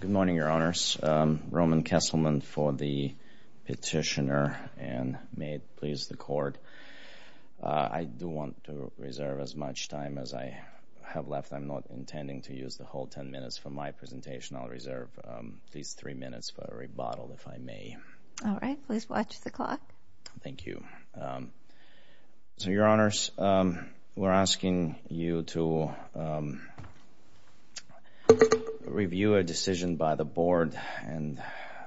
Good morning, Your Honors. Roman Kesselman for the Petitioner, and may it please the Court. I do want to reserve as much time as I have left. I'm not intending to use the whole ten minutes for my presentation. I'll reserve these three minutes for a rebuttal, if I may. Thank you. So, Your Honors, we're asking you to review a decision by the Board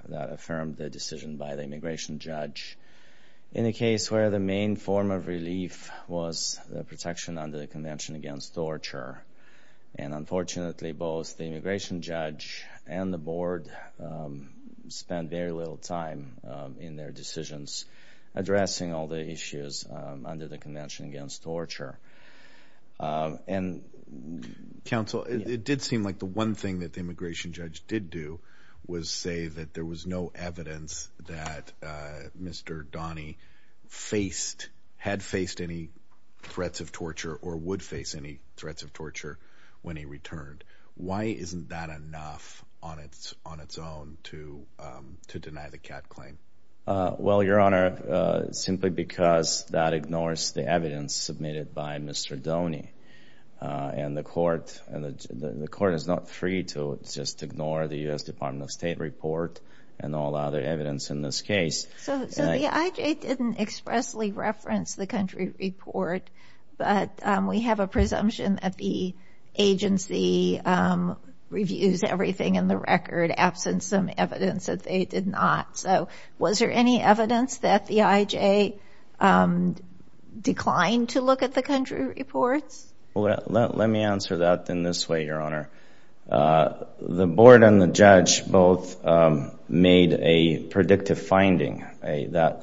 that affirmed the decision by the Immigration Judge in a case where the main form of relief was the protection under the Convention Against Torture. And unfortunately, both the Immigration Judge and the Board spent very little time in their decisions addressing all the issues under the Convention Against Torture. Counsel, it did seem like the one thing that the Immigration Judge did do was say that there was no evidence that Mr. Doni had faced any threats of torture or would face any threats of torture when he returned. Why isn't that enough on its own to deny the CAT claim? Well, Your Honor, simply because that ignores the evidence submitted by Mr. Doni. And the Court is not free to just ignore the U.S. Department of State report and all other evidence in this case. So, the IJ didn't expressly reference the country report, but we have a presumption that the agency reviews everything in the record, absent some evidence that they did not. So, was there any evidence that the IJ declined to look at the country reports? Let me answer that in this way, Your Honor. The Board and the Judge both made a predictive finding,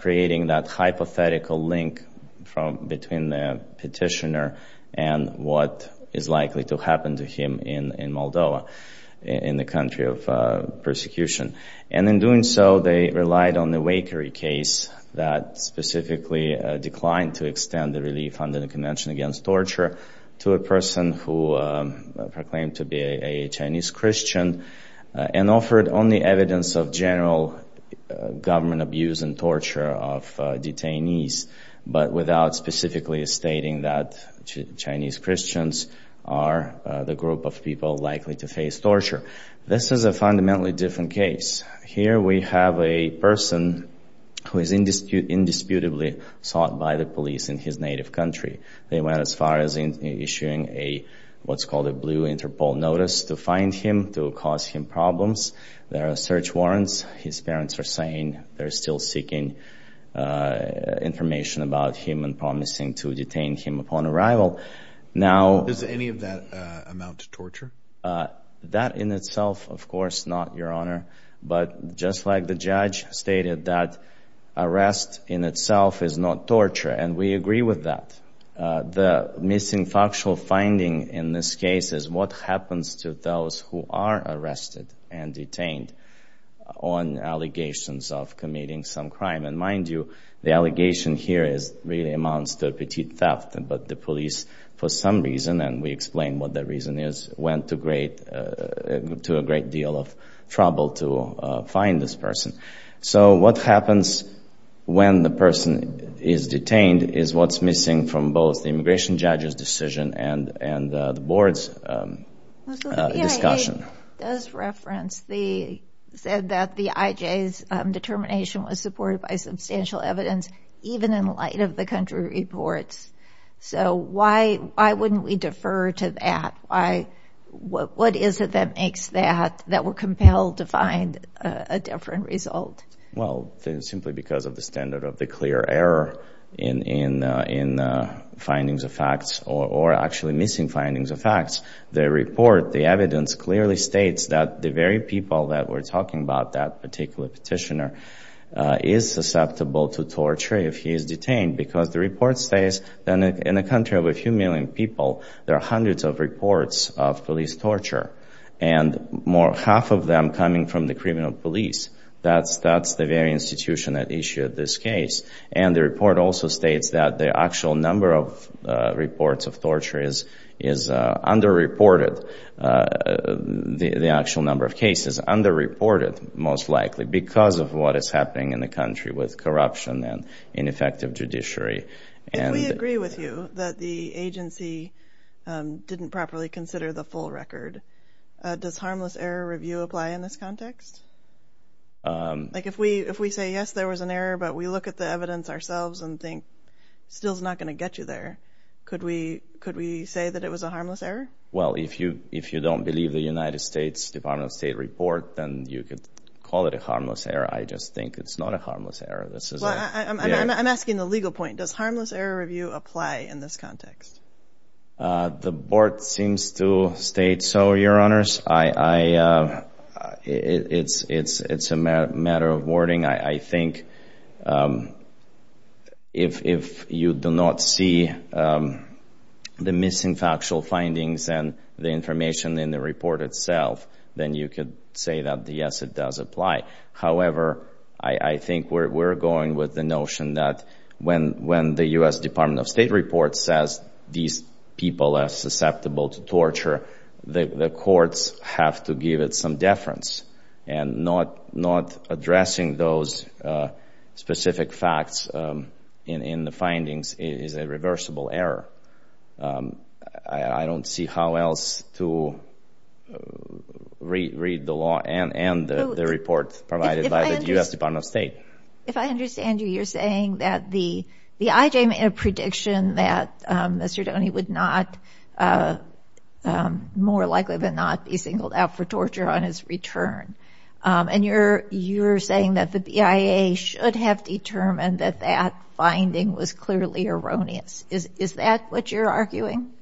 creating that hypothetical link between the petitioner and what is likely to happen to him in Moldova, in the country of persecution. And in doing so, they relied on the Waker case that specifically declined to extend the relief under the Convention Against Torture to a person who proclaimed to be a Chinese Christian and offered only evidence of general government abuse and torture of detainees, but without specifically stating that Chinese Christians are the group of people likely to face torture. This is a fundamentally different case. Here, we have a person who is indisputably sought by the police in his native country. They went as far as issuing what's called a blue Interpol notice to find him, to cause him problems. There are search warrants. His parents are saying they're still seeking information about him and promising to detain him upon arrival. Does any of that amount to torture? That in itself, of course not, Your Honor. But just like the judge stated, that arrest in itself is not torture, and we agree with that. The missing factual finding in this case is what happens to those who are arrested and detained on allegations of committing some crime. And mind you, the allegation here really amounts to a petite theft. But the police, for some reason, and we explain what that reason is, went to a great deal of trouble to find this person. So what happens when the person is detained is what's missing from both the immigration judge's decision and the board's discussion. It does reference the, said that the IJ's determination was supported by substantial evidence, even in light of the country reports. So why wouldn't we defer to that? What is it that makes that, that we're compelled to find a different result? Well, simply because of the standard of the clear error in findings of facts or actually missing findings of facts. The report, the evidence, clearly states that the very people that we're talking about, that particular petitioner, is susceptible to torture if he is detained. Because the report states that in a country of a few million people, there are hundreds of reports of police torture. And more, half of them coming from the criminal police. That's the very institution that issued this case. And the report also states that the actual number of reports of torture is underreported. The actual number of cases underreported, most likely, because of what is happening in the country with corruption and ineffective judiciary. If we agree with you that the agency didn't properly consider the full record, does harmless error review apply in this context? Like if we say, yes, there was an error, but we look at the evidence ourselves and think, still is not going to get you there. Could we say that it was a harmless error? Well, if you don't believe the United States Department of State report, then you could call it a harmless error. I just think it's not a harmless error. I'm asking the legal point. Does harmless error review apply in this context? The board seems to state so, Your Honors. It's a matter of wording. I think if you do not see the missing factual findings and the information in the report itself, then you could say that, yes, it does apply. However, I think we're going with the notion that when the U.S. Department of State report says these people are susceptible to torture, the courts have to give it some deference. And not addressing those specific facts in the findings is a reversible error. I don't see how else to read the law and the report provided by the U.S. Department of State. If I understand you, you're saying that the IJ made a prediction that Mr. Doney would not, more likely than not, be singled out for torture on his return. And you're saying that the BIA should have determined that that finding was clearly erroneous. Is that what you're arguing?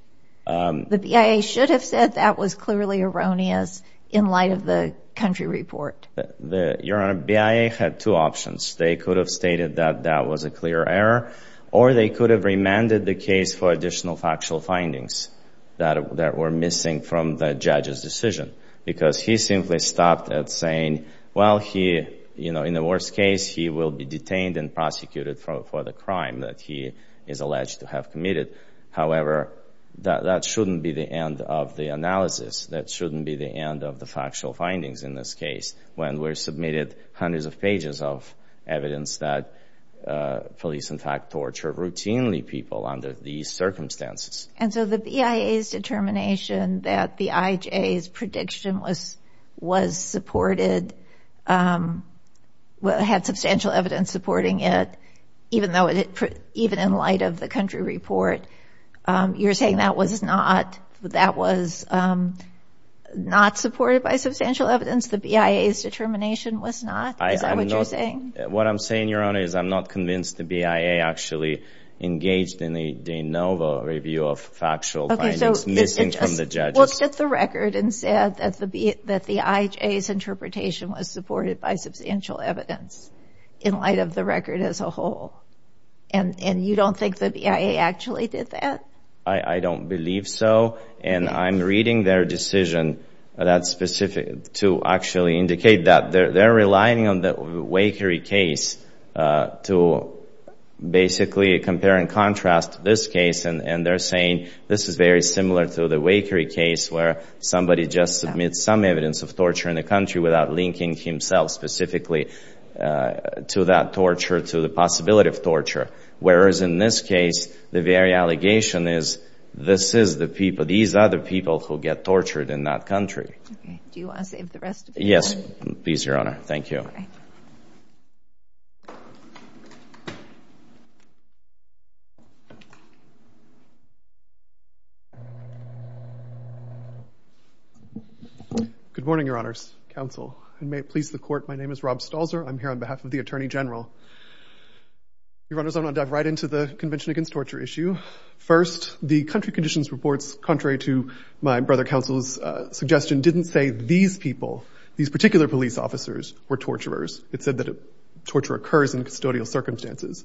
The BIA should have said that was clearly erroneous in light of the country report. Your Honor, BIA had two options. They could have stated that that was a clear error, or they could have remanded the case for additional factual findings that were missing from the judge's decision. Because he simply stopped at saying, well, in the worst case, he will be detained and prosecuted for the crime that he is alleged to have committed. However, that shouldn't be the end of the analysis. That shouldn't be the end of the factual findings in this case when we're submitted hundreds of pages of evidence that police, in fact, torture routinely people under these circumstances. And so the BIA's determination that the IJ's prediction was supported, had substantial evidence supporting it, even in light of the country report. You're saying that was not supported by substantial evidence? The BIA's determination was not? Is that what you're saying? What I'm saying, Your Honor, is I'm not convinced the BIA actually engaged in a de novo review of factual findings missing from the judge's. Okay, so it just looked at the record and said that the IJ's interpretation was supported by substantial evidence in light of the record as a whole. And you don't think the BIA actually did that? I don't believe so. And I'm reading their decision to actually indicate that. They're relying on the Wakery case to basically compare and contrast this case. And they're saying this is very similar to the Wakery case where somebody just submits some evidence of torture in the country without linking himself specifically to that torture, to the possibility of torture. Whereas in this case, the very allegation is this is the people, these are the people who get tortured in that country. Okay, do you want to save the rest of the time? Yes, please, Your Honor. Thank you. Okay. Good morning, Your Honors, Counsel, and may it please the Court, my name is Rob Stalzer. I'm here on behalf of the Attorney General. Your Honors, I'm going to dive right into the Convention Against Torture issue. First, the country conditions reports, contrary to my brother counsel's suggestion, didn't say these people, these particular police officers, were torturers. It said that torture occurs in custodial circumstances.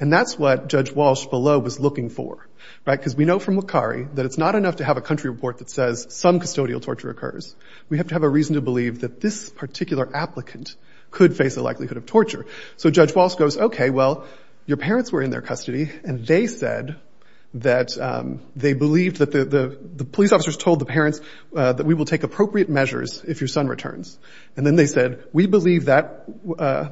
And that's what Judge Walsh below was looking for, right? Because we know from Wakery that it's not enough to have a country report that says some custodial torture occurs. We have to have a reason to believe that this particular applicant could face a likelihood of torture. So Judge Walsh goes, okay, well, your parents were in their custody, and they said that they believed that the police officers told the parents that we will take appropriate measures if your son returns. And then they said, we believe that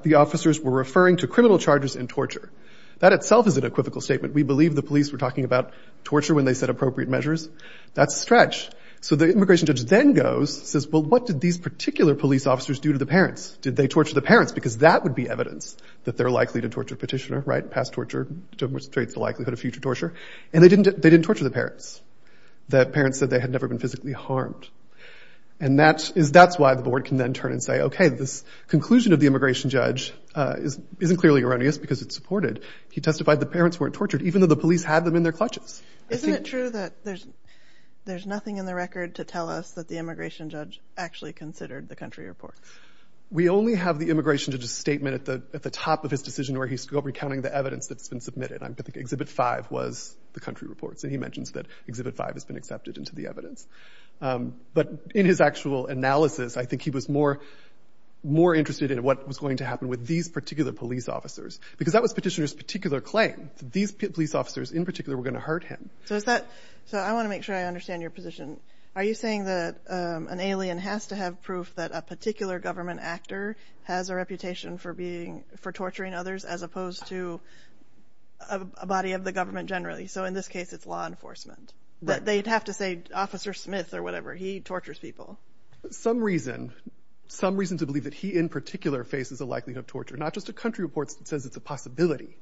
the officers were referring to criminal charges and torture. That itself is an equivocal statement. We believe the police were talking about torture when they said appropriate measures. That's a stretch. So the immigration judge then goes, says, well, what did these particular police officers do to the parents? Did they torture the parents? Because that would be evidence that they're likely to torture a petitioner, right? Past torture demonstrates the likelihood of future torture. And they didn't torture the parents. The parents said they had never been physically harmed. And that's why the board can then turn and say, okay, this conclusion of the immigration judge isn't clearly erroneous because it's supported. He testified the parents weren't tortured, even though the police had them in their clutches. Isn't it true that there's nothing in the record to tell us that the immigration judge actually considered the country report? We only have the immigration judge's statement at the top of his decision where he's still recounting the evidence that's been submitted. I think Exhibit 5 was the country reports. And he mentions that Exhibit 5 has been accepted into the evidence. But in his actual analysis, I think he was more interested in what was going to happen with these particular police officers. Because that was petitioner's particular claim, that these police officers in particular were going to hurt him. So is that – so I want to make sure I understand your position. Are you saying that an alien has to have proof that a particular government actor has a reputation for being – for torturing others as opposed to a body of the government generally? So in this case, it's law enforcement. But they'd have to say Officer Smith or whatever. He tortures people. Some reason – some reason to believe that he in particular faces a likelihood of torture, not just a country report that says it's a possibility.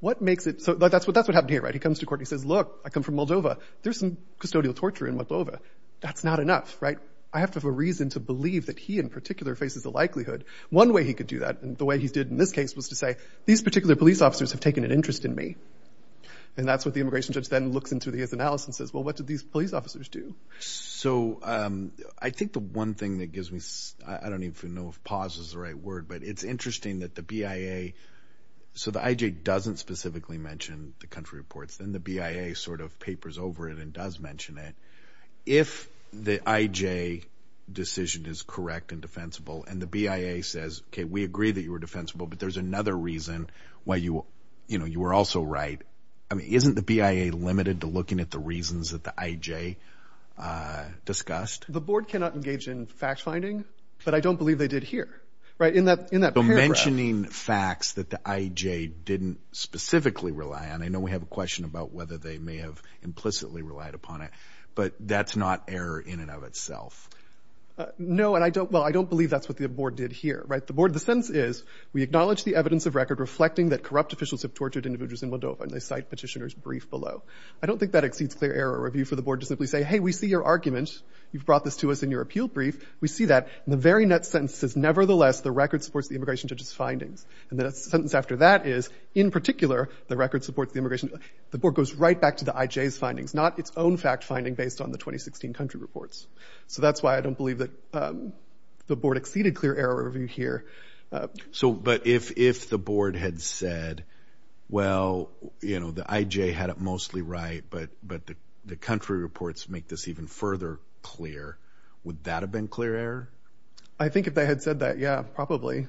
What makes it – so that's what happened here, right? He comes to court and he says, look, I come from Moldova. There's some custodial torture in Moldova. That's not enough, right? I have to have a reason to believe that he in particular faces a likelihood. One way he could do that, the way he did in this case, was to say these particular police officers have taken an interest in me. And that's what the immigration judge then looks into his analysis and says, well, what did these police officers do? So I think the one thing that gives me – I don't even know if pause is the right word. But it's interesting that the BIA – so the IJ doesn't specifically mention the country reports. Then the BIA sort of papers over it and does mention it. If the IJ decision is correct and defensible and the BIA says, OK, we agree that you were defensible, but there's another reason why you were also right, I mean, isn't the BIA limited to looking at the reasons that the IJ discussed? The board cannot engage in fact-finding, but I don't believe they did here. Right? In that paragraph. So mentioning facts that the IJ didn't specifically rely on, I know we have a question about whether they may have implicitly relied upon it. But that's not error in and of itself. No, and I don't – well, I don't believe that's what the board did here. Right? The board – the sentence is, we acknowledge the evidence of record reflecting that corrupt officials have tortured individuals in Moldova, and they cite petitioner's brief below. I don't think that exceeds clear error review for the board to simply say, hey, we see your argument. You've brought this to us in your appeal brief. We see that. And the very next sentence says, nevertheless, the record supports the immigration judge's findings. And the sentence after that is, in particular, the record supports the immigration – the board goes right back to the IJ's findings, not its own fact-finding based on the 2016 country reports. So that's why I don't believe that the board exceeded clear error review here. So – but if the board had said, well, you know, the IJ had it mostly right, but the country reports make this even further clear, would that have been clear error? I think if they had said that, yeah, probably.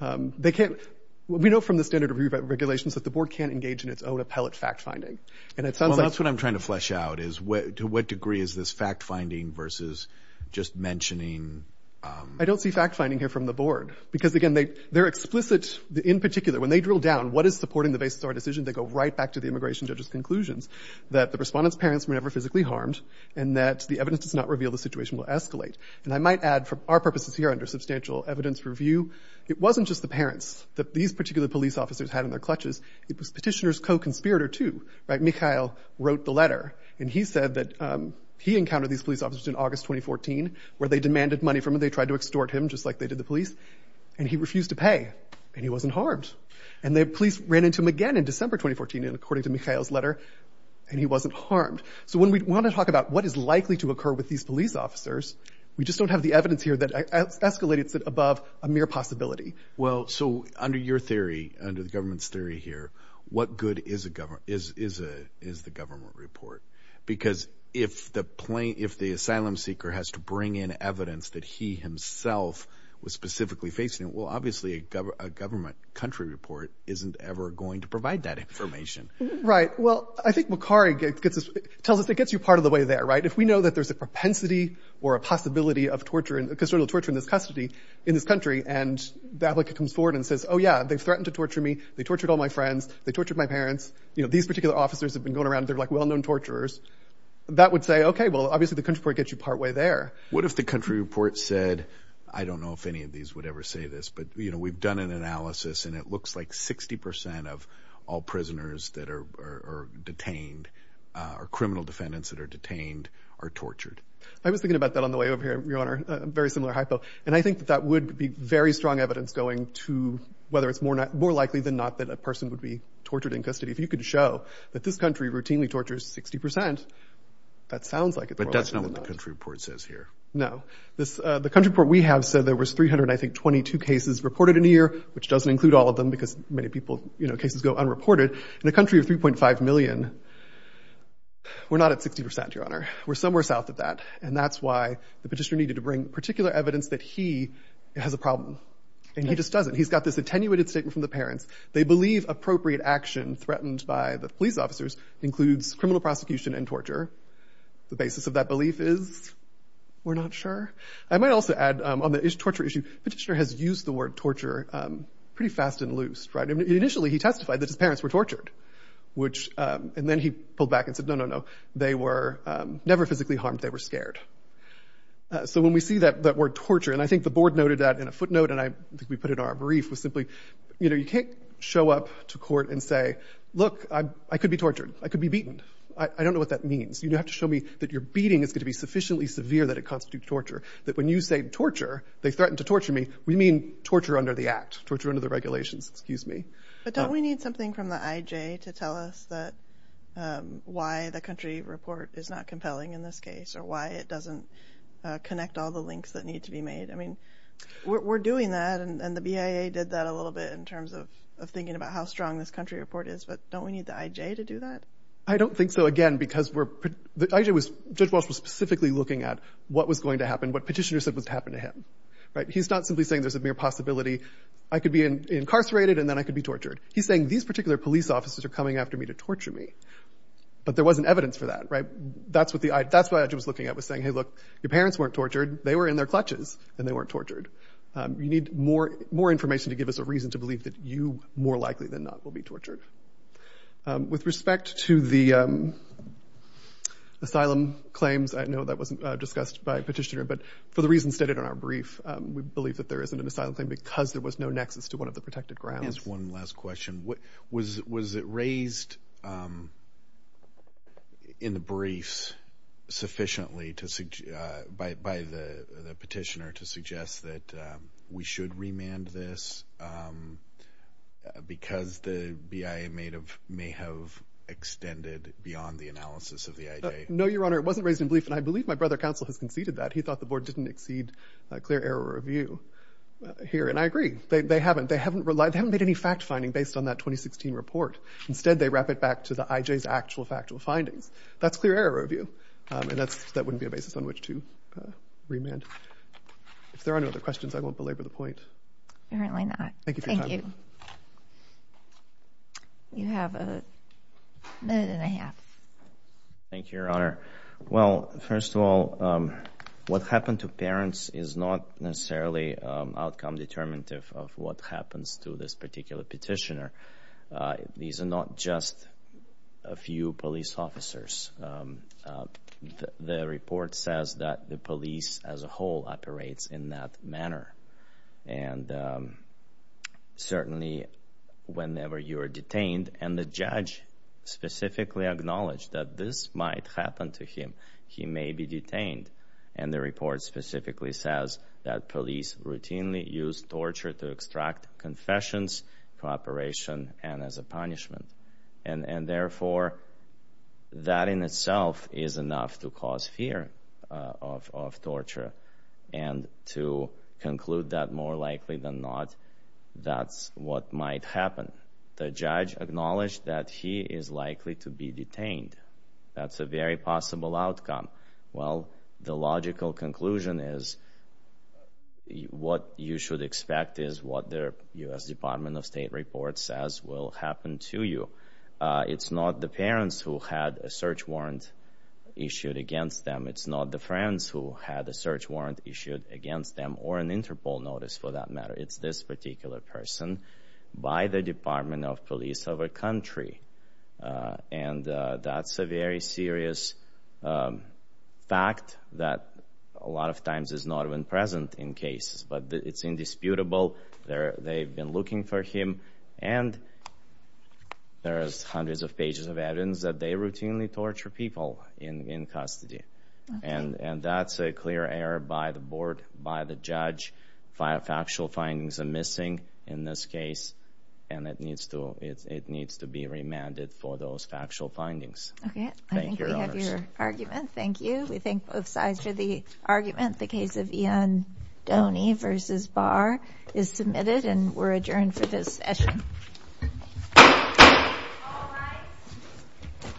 They can't – we know from the standard review regulations that the board can't engage in its own appellate fact-finding. And it sounds like – Well, that's what I'm trying to flesh out is to what degree is this fact-finding versus just mentioning – I don't see fact-finding here from the board because, again, they're explicit in particular. When they drill down what is supporting the basis of our decision, they go right back to the immigration judge's conclusions that the respondent's parents were never physically harmed and that the evidence does not reveal the situation will escalate. And I might add, for our purposes here under substantial evidence review, it wasn't just the parents that these particular police officers had in their clutches. It was petitioner's co-conspirator, too, right? Mikhail wrote the letter, and he said that he encountered these police officers in August 2014 where they demanded money from him. They tried to extort him, just like they did the police, and he refused to pay, and he wasn't harmed. And the police ran into him again in December 2014, according to Mikhail's letter, and he wasn't harmed. So when we want to talk about what is likely to occur with these police officers, we just don't have the evidence here that escalates it above a mere possibility. Well, so under your theory, under the government's theory here, what good is the government report? Because if the asylum seeker has to bring in evidence that he himself was specifically facing it, well, obviously a government country report isn't ever going to provide that information. Right. Well, I think Macari tells us it gets you part of the way there, right? If we know that there's a propensity or a possibility of torturing, custodial torture in this country, and the applicant comes forward and says, oh, yeah, they've threatened to torture me, they tortured all my friends, they tortured my parents, you know, these particular officers have been going around, they're like well-known torturers, that would say, okay, well, obviously the country report gets you part way there. What if the country report said, I don't know if any of these would ever say this, but, you know, we've done an analysis and it looks like 60% of all prisoners that are detained or criminal defendants that are detained are tortured? I was thinking about that on the way over here, Your Honor, a very similar hypo, and I think that would be very strong evidence going to whether it's more likely than not that a person would be tortured in custody. If you could show that this country routinely tortures 60%, that sounds like it's more likely than not. That's not what the country report says here. No. The country report we have said there was 322 cases reported in a year, which doesn't include all of them because many people, you know, cases go unreported. In a country of 3.5 million, we're not at 60%, Your Honor. We're somewhere south of that, and that's why the petitioner needed to bring particular evidence that he has a problem. And he just doesn't. He's got this attenuated statement from the parents. They believe appropriate action threatened by the police officers includes criminal prosecution and torture. The basis of that belief is we're not sure. I might also add on the torture issue, petitioner has used the word torture pretty fast and loose. Initially, he testified that his parents were tortured, and then he pulled back and said, no, no, no, they were never physically harmed. They were scared. So when we see that word torture, and I think the board noted that in a footnote, and I think we put it in our brief, was simply, you know, you can't show up to court and say, look, I could be tortured. I could be beaten. I don't know what that means. You have to show me that your beating is going to be sufficiently severe that it constitutes torture, that when you say torture, they threaten to torture me, we mean torture under the act, torture under the regulations, excuse me. But don't we need something from the IJ to tell us why the country report is not compelling in this case or why it doesn't connect all the links that need to be made? I mean, we're doing that, and the BIA did that a little bit in terms of thinking about how strong this country report is, but don't we need the IJ to do that? I don't think so, again, because the IJ was, Judge Walsh was specifically looking at what was going to happen, what petitioner said was going to happen to him. He's not simply saying there's a mere possibility I could be incarcerated and then I could be tortured. He's saying these particular police officers are coming after me to torture me, but there wasn't evidence for that, right? That's what the IJ was looking at, was saying, hey, look, your parents weren't tortured. They were in their clutches, and they weren't tortured. You need more information to give us a reason to believe that you, more likely than not, will be tortured. With respect to the asylum claims, I know that wasn't discussed by a petitioner, but for the reasons stated in our brief, we believe that there isn't an asylum claim because there was no nexus to one of the protected grounds. Just one last question. Was it raised in the briefs sufficiently by the petitioner to suggest that we should remand this because the BIA may have extended beyond the analysis of the IJ? No, Your Honor, it wasn't raised in brief, and I believe my brother counsel has conceded that. He thought the board didn't exceed clear error review here, and I agree. They haven't made any fact-finding based on that 2016 report. Instead, they wrap it back to the IJ's actual factual findings. That's clear error review, and that wouldn't be a basis on which to remand. If there are no other questions, I won't belabor the point. Apparently not. Thank you for your time. Thank you. You have a minute and a half. Thank you, Your Honor. Well, first of all, what happened to parents is not necessarily outcome-determinative of what happens to this particular petitioner. These are not just a few police officers. The report says that the police as a whole operates in that manner. Certainly, whenever you are detained, and the judge specifically acknowledged that this might happen to him, he may be detained. The report specifically says that police routinely use torture to extract confessions, cooperation, and as a punishment. Therefore, that in itself is enough to cause fear of torture, and to conclude that more likely than not, that's what might happen. The judge acknowledged that he is likely to be detained. That's a very possible outcome. The logical conclusion is what you should expect is what the U.S. Department of State report says will happen to you. It's not the parents who had a search warrant issued against them. It's not the friends who had a search warrant issued against them, or an Interpol notice for that matter. It's this particular person by the Department of Police of a country. That's a very serious fact that a lot of times is not even present in cases, but it's indisputable. They've been looking for him, and there's hundreds of pages of evidence that they routinely torture people in custody. That's a clear error by the board, by the judge. Factual findings are missing in this case, and it needs to be remanded for those factual findings. Thank you, Your Honors. I think we have your argument. Thank you. We thank both sides for the argument. The case of Iandoni v. Barr is submitted, and we're adjourned for this session. All rise.